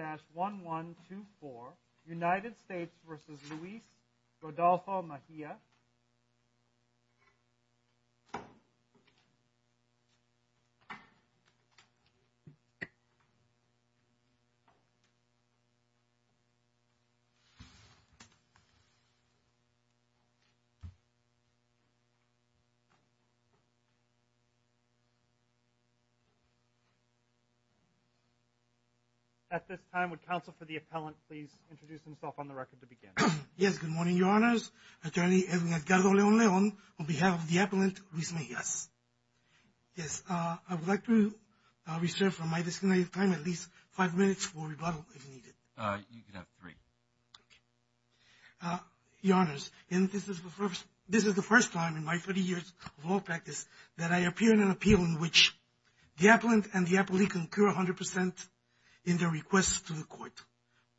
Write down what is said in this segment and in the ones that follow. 1124 United States v. Luis Rodolfo Mejia At this time, would counsel for the appellant please introduce himself on the record to begin. Yes, good morning, your honors, attorney Edwin Edgardo Leon Leon on behalf of the appellant Luis Mejia. Yes, I would like to reserve from my designated time at least five minutes for rebuttal if needed. You could have three. Your honors, this is the first time in my 30 years of law practice that I appear in an appeal in which the appellant and the appellee concur 100% in their request to the court.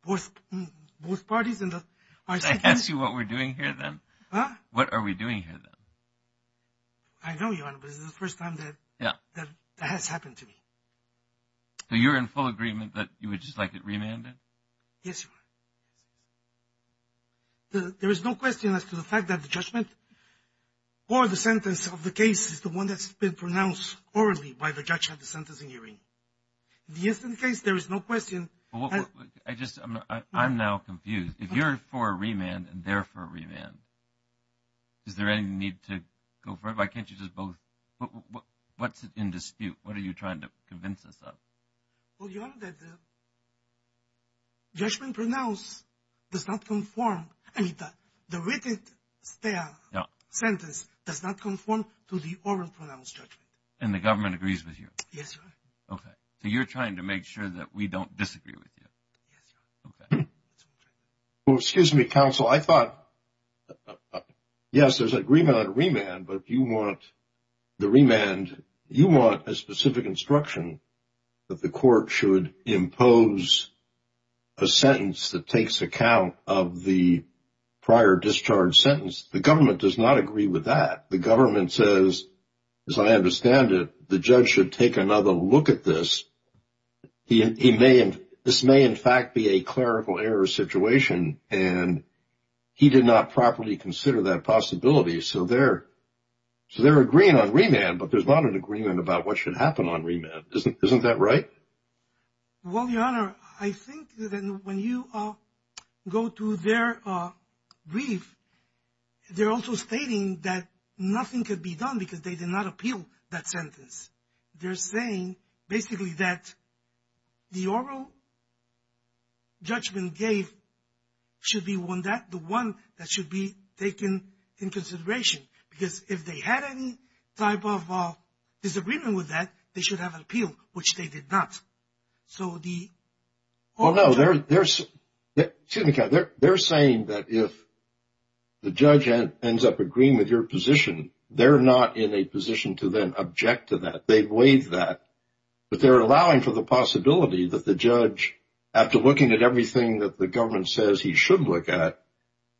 Both parties in the I can't see what we're doing here then. What are we doing here then? I know your honor, but this is the first time that that has happened to me. So you're in full agreement that you would just like it remanded? Yes. There is no question as to the fact that the judgment or the sentence of the case is the one that's been pronounced orally by the judge at the sentencing hearing. Yes, in case there is no question. I just I'm now confused. If you're for a remand and therefore remand, is there any need to go for it? Why can't you just both? What's in dispute? What are you trying to convince us of? Well, your honor, that the judgment pronounced does not conform, I mean, the written sentence does not conform to the oral pronounced judgment. And the government agrees with you? Yes, your honor. Okay. So you're trying to make sure that we don't disagree with you? Yes, your honor. Okay. Well, excuse me, counsel. I thought, yes, there's agreement on a remand, but if you want the remand, you want a specific instruction that the court should impose a sentence that takes account of the prior discharge sentence. The government does not agree with that. The government says, as I understand it, the judge should take another look at this. This may in fact be a clerical error situation, and he did not properly consider that possibility. So they're agreeing on remand, but there's not an agreement about what should happen on remand. Isn't that right? Well, your honor, I think that when you go to their brief, they're also stating that nothing could be done because they did not appeal that sentence. They're saying basically that the oral judgment gave should be the one that should be taken in consideration. Because if they had any type of disagreement with that, they should have an appeal, which they did not. So the... Well, no, they're saying that if the judge ends up agreeing with your position, they're not in a position to then object to that. They've waived that, but they're allowing for the possibility that the judge, after looking at everything that the government says he should look at,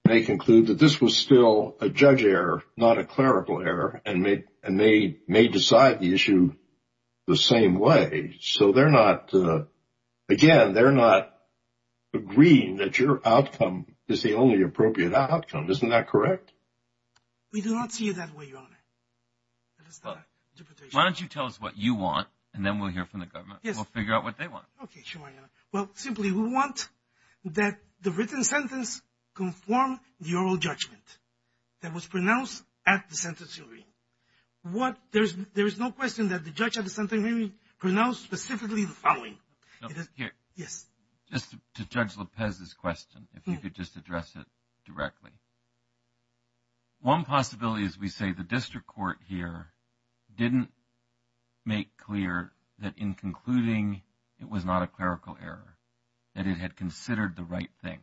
may conclude that this was still a judge error, not a clerical error, and may decide the issue the same way. So they're not, again, they're not agreeing that your outcome is the only appropriate outcome. Isn't that correct? We do not see it that way, your honor. Why don't you tell us what you want, and then we'll hear from the government, we'll figure out what they want. Okay, sure, your honor. Well, simply, we want that the written sentence conform the oral judgment that was pronounced at the sentencing hearing. What... There is no question that the judge at the sentencing hearing pronounced specifically the following. Here. Yes. Just to Judge Lopez's question, if you could just address it directly. One possibility is we say the district court here didn't make clear that in concluding it was not a clerical error, that it had considered the right thing.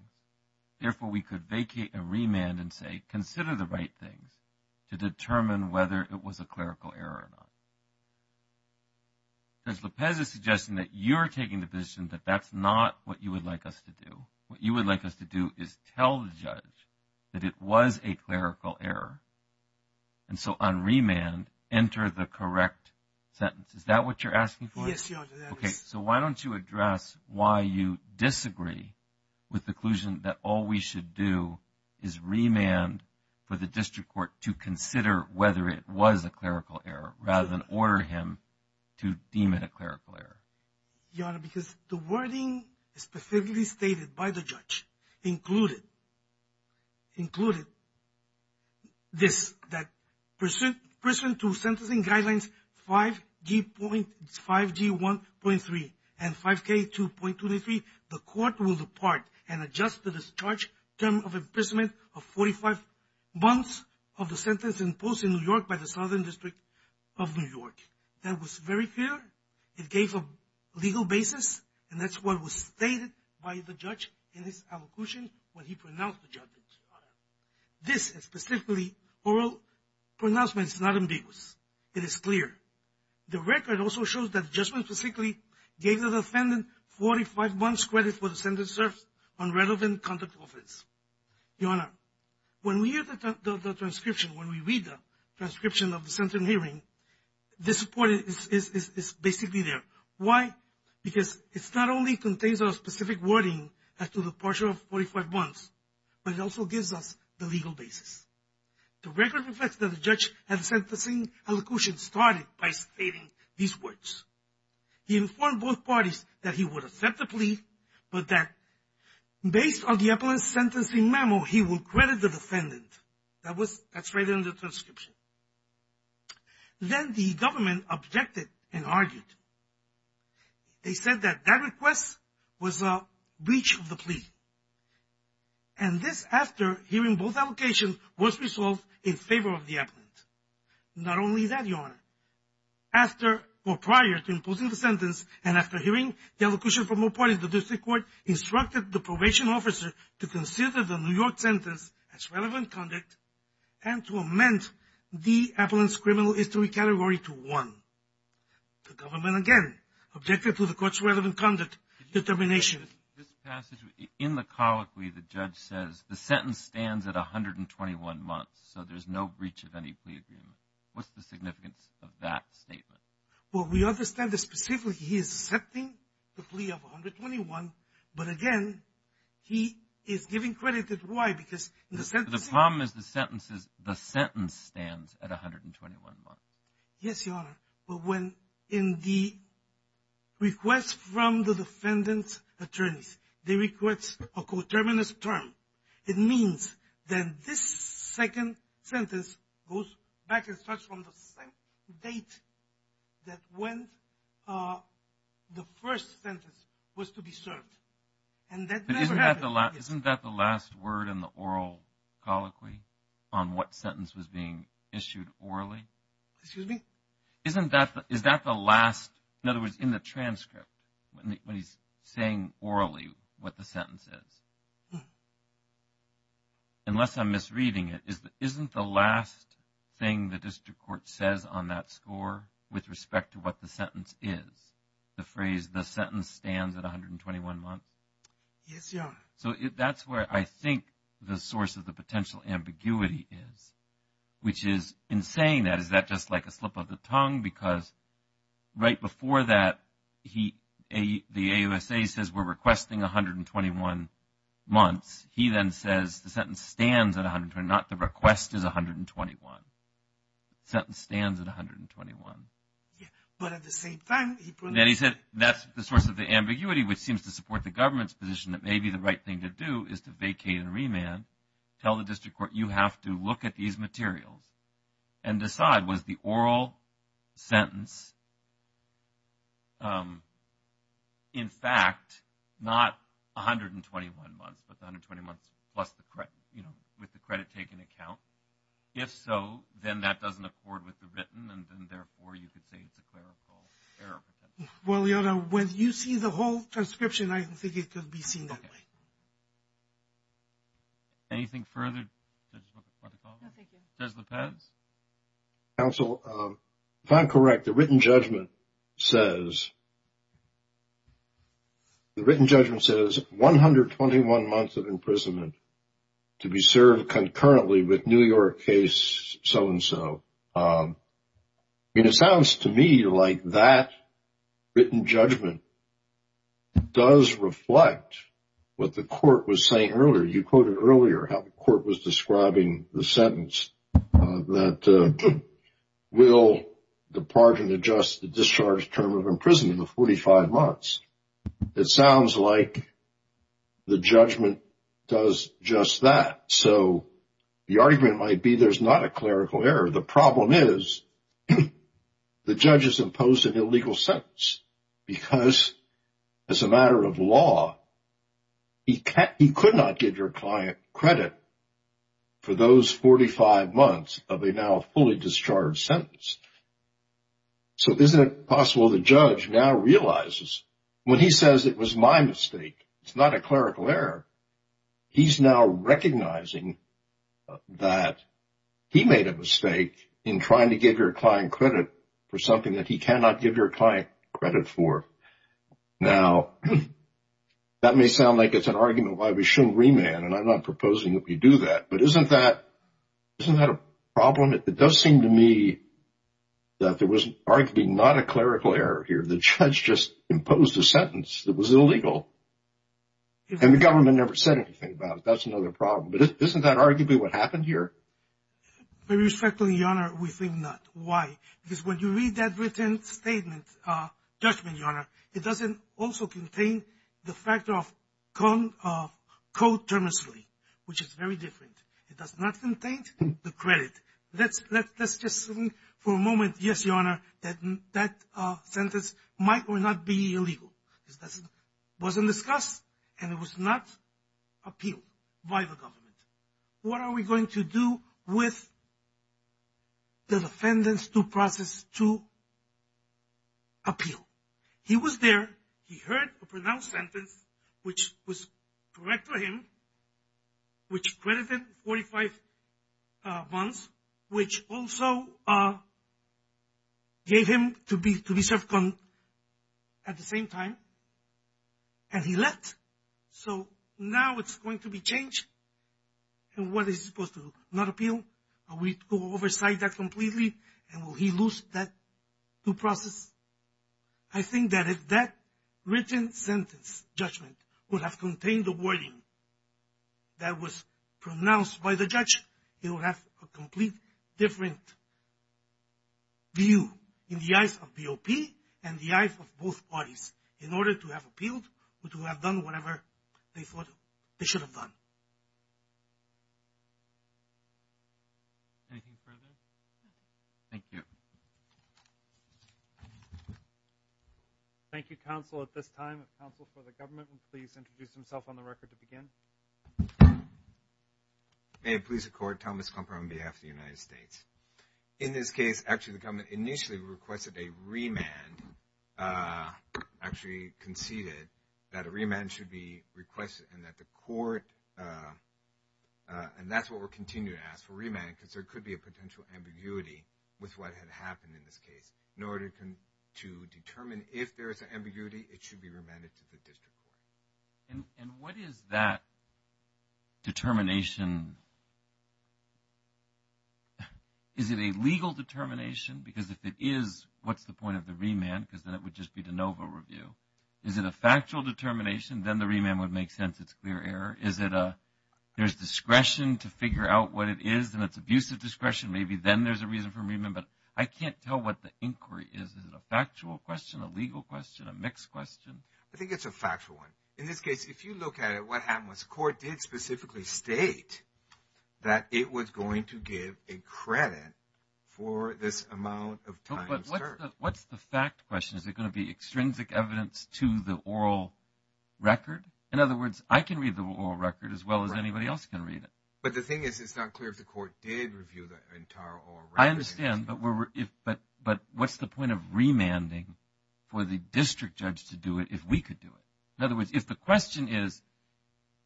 Therefore, we could vacate and remand and say, consider the right things to determine whether it was a clerical error or not. Judge Lopez is suggesting that you're taking the position that that's not what you would like us to do. What you would like us to do is tell the judge that it was a clerical error. And so on remand, enter the correct sentence. Is that what you're asking for? Yes, your honor. Okay. So why don't you address why you disagree with the conclusion that all we should do is remand for the district court to consider whether it was a clerical error rather than order him to deem it a clerical error? Your honor, because the wording specifically stated by the judge included, included this, that pursuant to sentencing guidelines 5G1.3 and 5K2.23, the court will depart and adjust the discharge term of imprisonment of 45 months of the sentence imposed in New York by the Southern District of New York. That was very clear. It gave a legal basis and that's what was stated by the judge in his allocution when he pronounced the judgment, your honor. This is specifically oral pronouncements, not ambiguous. It is clear. The record also shows that the judgment specifically gave the defendant 45 months credit for the sentence served on relevant conduct offense, your honor. When we have the transcription, when we read the transcription of the sentencing hearing, this report is basically there. Why? Because it's not only contains a specific wording as to the partial 45 months, but it also gives us the legal basis. The record reflects that the judge at the sentencing allocution started by stating these words. He informed both parties that he would accept the plea, but that based on the appellant's sentencing memo, he will credit the defendant. That was, that's right in the transcription. Then the government objected and argued. They said that that request was a breach of the plea. And this after hearing both allocations was resolved in favor of the appellant. Not only that, your honor, after or prior to imposing the sentence and after hearing the allocution from both parties, the district court instructed the probation officer to consider the New York sentence as relevant conduct and to amend the appellant's criminal history category to one. The government, again, objected to the court's relevant conduct determination. In the colloquy, the judge says the sentence stands at 121 months, so there's no breach of any plea agreement. What's the significance of that statement? Well, we understand that specifically he is accepting the plea of 121, but again, he is giving credit to why? Because in the sentence... The problem is the sentence is, the sentence stands at 121 months. Yes, your honor. But when in the request from the defendant's attorneys, they request a coterminous term, it means that this second sentence goes back and starts from the same date that when the first sentence was to be served. And that never happened. Isn't that the last word in the oral colloquy on what sentence was being issued orally? Excuse me? Isn't that the last, in other words, in the transcript, when he's saying orally what the sentence is? No. Unless I'm misreading it, isn't the last thing the district court says on that score with respect to what the sentence is, the phrase, the sentence stands at 121 months? Yes, your honor. So that's where I think the source of the potential ambiguity is, which is in saying that, is that just like a slip of the tongue? Because right before that, the AUSA says we're requesting 121 months. He then says the sentence stands at 121, not the request is 121. Sentence stands at 121. Yeah. But at the same time... Then he said, that's the source of the ambiguity, which seems to support the government's position that maybe the right thing to do is to vacate and remand, tell the district court, you have to look at these materials and decide, was the oral sentence, in fact, not 121 months, but the 120 months plus the credit, you know, with the credit taken account? If so, then that doesn't accord with the written, and then therefore, you could say it's a clerical error. Well, your honor, when you see the whole transcription, I don't think it could be seen that way. Thank you. Anything further? Judge Lopez? Counsel, if I'm correct, the written judgment says, the written judgment says 121 months of imprisonment to be served concurrently with New York case so-and-so. I mean, it sounds to me like that written judgment does reflect what the court was saying earlier. You quoted earlier how the court was describing the sentence that, will the pardon adjust the discharge term of imprisonment of 45 months. It sounds like the judgment does just that. So the argument might be there's not a clerical error. The problem is the judge has imposed an illegal sentence because as a matter of law, he could not give your client credit for those 45 months of a now fully discharged sentence. So isn't it possible the judge now realizes when he says it was my mistake, it's not a clerical error. He's now recognizing that he made a mistake in trying to give your client credit for something that he cannot give your client credit for. Now, that may sound like it's an argument why we shouldn't remand, and I'm not proposing that we do that. But isn't that a problem? It does seem to me that there was arguably not a clerical error here. The judge just imposed a sentence that was illegal. And the government never said anything about it. That's another problem. But isn't that arguably what happened here? Very respectfully, Your Honor, we think not. Why? Because when you read that written statement, judgment, Your Honor, it doesn't also contain the fact of code termously, which is very different. It does not contain the credit. Let's just assume for a moment, yes, Your Honor, that that sentence might or not be illegal. It wasn't discussed, and it was not appealed by the government. What are we going to do with the defendant's due process to appeal? He was there. He heard a pronounced sentence, which was correct for him, which credited 45 months, which also gave him to be served at the same time, and he left. So now it's going to be changed, and what is he supposed to do? Not appeal? Are we to oversight that completely, and will he lose that due process? I think that if that written sentence, judgment, would have contained the wording that was a completely different view in the eyes of BOP and the eyes of both parties in order to have appealed or to have done whatever they thought they should have done. Anything further? Thank you. Thank you, counsel. At this time, the counsel for the government will please introduce himself on the record to begin. May it please the court, Thomas Clumper on behalf of the United States. In this case, actually, the government initially requested a remand, actually conceded that a remand should be requested and that the court, and that's what we're continuing to ask for, a remand, because there could be a potential ambiguity with what had happened in this case. In order to determine if there is an ambiguity, it should be remanded to the district court. And what is that determination? Is it a legal determination? Because if it is, what's the point of the remand? Because then it would just be de novo review. Is it a factual determination? Then the remand would make sense. It's clear error. Is it a, there's discretion to figure out what it is, and it's abusive discretion. Maybe then there's a reason for remand, but I can't tell what the inquiry is. Is it a factual question, a legal question, a mixed question? I think it's a factual one. In this case, if you look at it, what happened was the court did specifically state that it was going to give a credit for this amount of time of search. But what's the fact question? Is it going to be extrinsic evidence to the oral record? In other words, I can read the oral record as well as anybody else can read it. But the thing is, it's not clear if the court did review the entire oral record. I understand, but what's the point of remanding for the district judge to do it if we could do it? In other words, if the question is,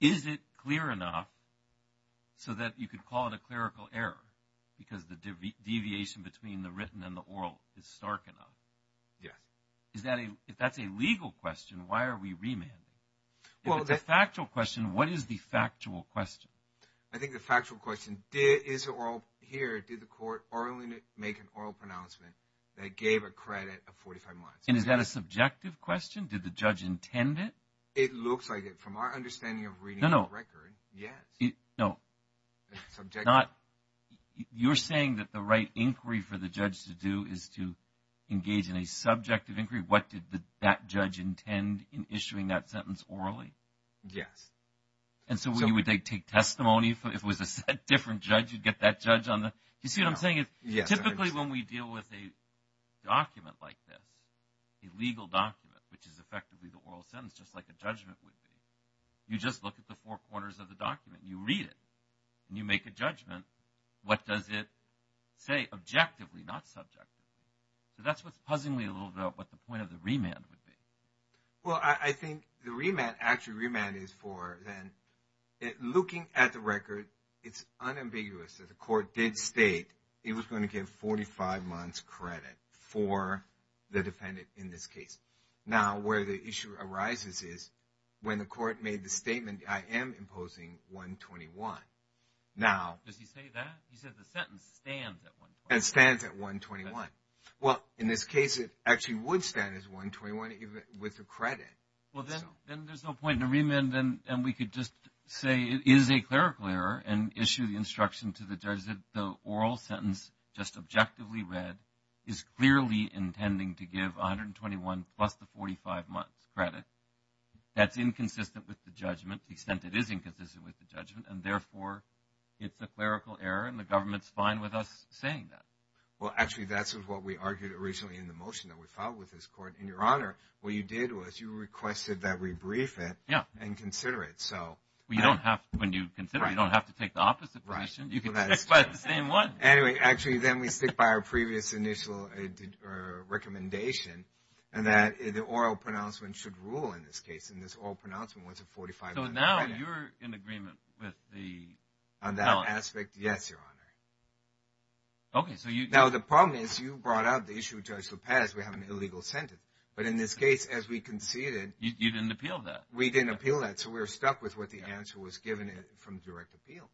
is it clear enough so that you could call it a clerical error? Because the deviation between the written and the oral is stark enough. Yes. If that's a legal question, why are we remanding? If it's a factual question, what is the factual question? I think the factual question, here, did the court orally make an oral pronouncement that gave a credit of 45 months? And is that a subjective question? Did the judge intend it? It looks like it. From our understanding of reading the record, yes. No. Subjective. You're saying that the right inquiry for the judge to do is to engage in a subjective inquiry? What did that judge intend in issuing that sentence orally? Yes. And so, would they take testimony? If it was a different judge, you'd get that judge on the… Do you see what I'm saying? Yes. Typically, when we deal with a document like this, a legal document, which is effectively the oral sentence, just like a judgment would be, you just look at the four corners of the document, you read it, and you make a judgment. What does it say objectively, not subjectively? So, that's what's puzzling me a little bit about what the point of the remand would be. Well, I think the remand… Actually, remand is for then… Looking at the record, it's unambiguous that the court did state it was going to give 45 months credit for the defendant in this case. Now, where the issue arises is when the court made the statement, I am imposing 121. Now… Does he say that? He says the sentence stands at 121. It stands at 121. Well, in this case, it actually would stand at 121, even with the credit. Well, then there's no point in the remand, and we could just say it is a clerical error, and issue the instruction to the judge that the oral sentence, just objectively read, is clearly intending to give 121 plus the 45 months credit. That's inconsistent with the judgment, to the extent it is inconsistent with the judgment, and therefore, it's a clerical error, and the government's fine with us saying that. Well, actually, that's what we argued originally in the motion that we filed with this court. And, Your Honor, what you did was you requested that we brief it… Yeah. …and consider it, so… Well, you don't have to. When you consider it, you don't have to take the opposite position. Right. You can stick by the same one. Anyway, actually, then we stick by our previous initial recommendation, and that the oral pronouncement should rule in this case, and this oral pronouncement was a 45-month credit. So, now you're in agreement with the… On that aspect, yes, Your Honor. Okay, so you… Now, the problem is you brought up the issue of Judge LaPaz. We have an illegal sentence, but in this case, as we conceded… You didn't appeal that. We didn't appeal that, so we're stuck with what the answer was given from direct appeal.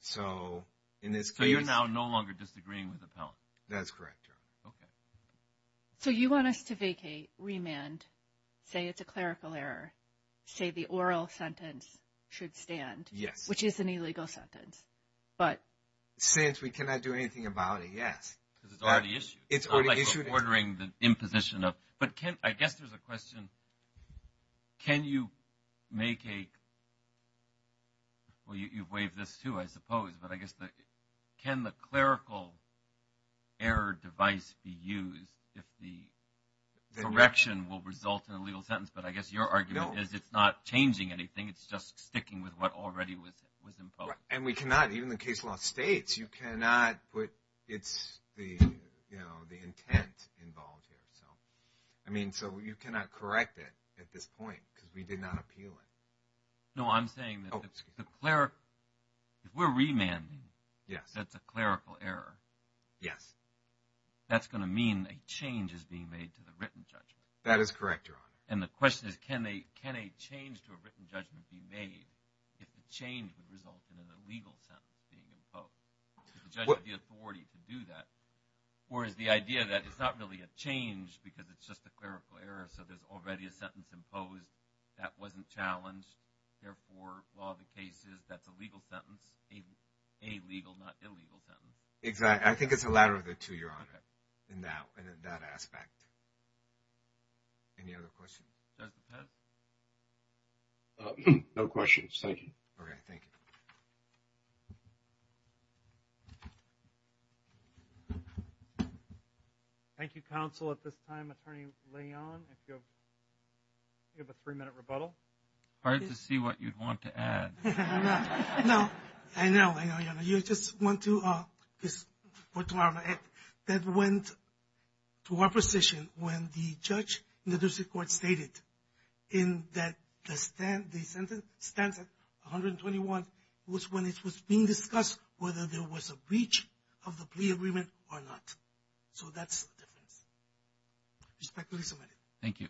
So, in this case… So, you're now no longer disagreeing with the penalty. That's correct, Your Honor. Okay. So, you want us to vacate, remand, say it's a clerical error, say the oral sentence should stand… Yes. Which is an illegal sentence, but… Since we cannot do anything about it, yes. Because it's already issued. It's already issued. It's not like we're ordering the imposition of… But I guess there's a question, can you make a… Well, you've waived this too, I suppose, but I guess the… Can the clerical error device be used if the correction will result in a legal sentence? But I guess your argument is it's not changing anything. It's just sticking with what already was imposed. And we cannot, even the case law states, you cannot put… It's the, you know, the intent involved here. So, I mean, so you cannot correct it at this point because we did not appeal it. No, I'm saying that… Oh, excuse me. The clerical… If we're remanding… Yes. That's a clerical error… Yes. That's going to mean a change is being made to the written judgment. That is correct, Your Honor. And the question is, can a change to a written judgment be made if the change would result in an illegal sentence being imposed? Would the judge have the authority to do that? Or is the idea that it's not really a change because it's just a clerical error, so there's already a sentence imposed, that wasn't challenged, therefore, law of the cases, that's a legal sentence, a legal, not illegal sentence. Exactly. I think it's a ladder of the two, Your Honor, in that aspect. Any other questions? No questions. Thank you. Okay. Thank you. Thank you, counsel. At this time, Attorney Leon, if you have a three-minute rebuttal. Hard to see what you'd want to add. No. I know. I know, Your Honor. You just want to put it to our head. That went to our position when the judge in the district court stated in that the sentence, stanza 121, was when it was being discussed whether there was a breach of the plea agreement or not. So that's the difference. Respectfully submitted. Thank you.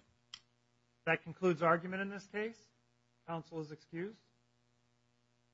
That concludes argument in this case. Counsel is excused.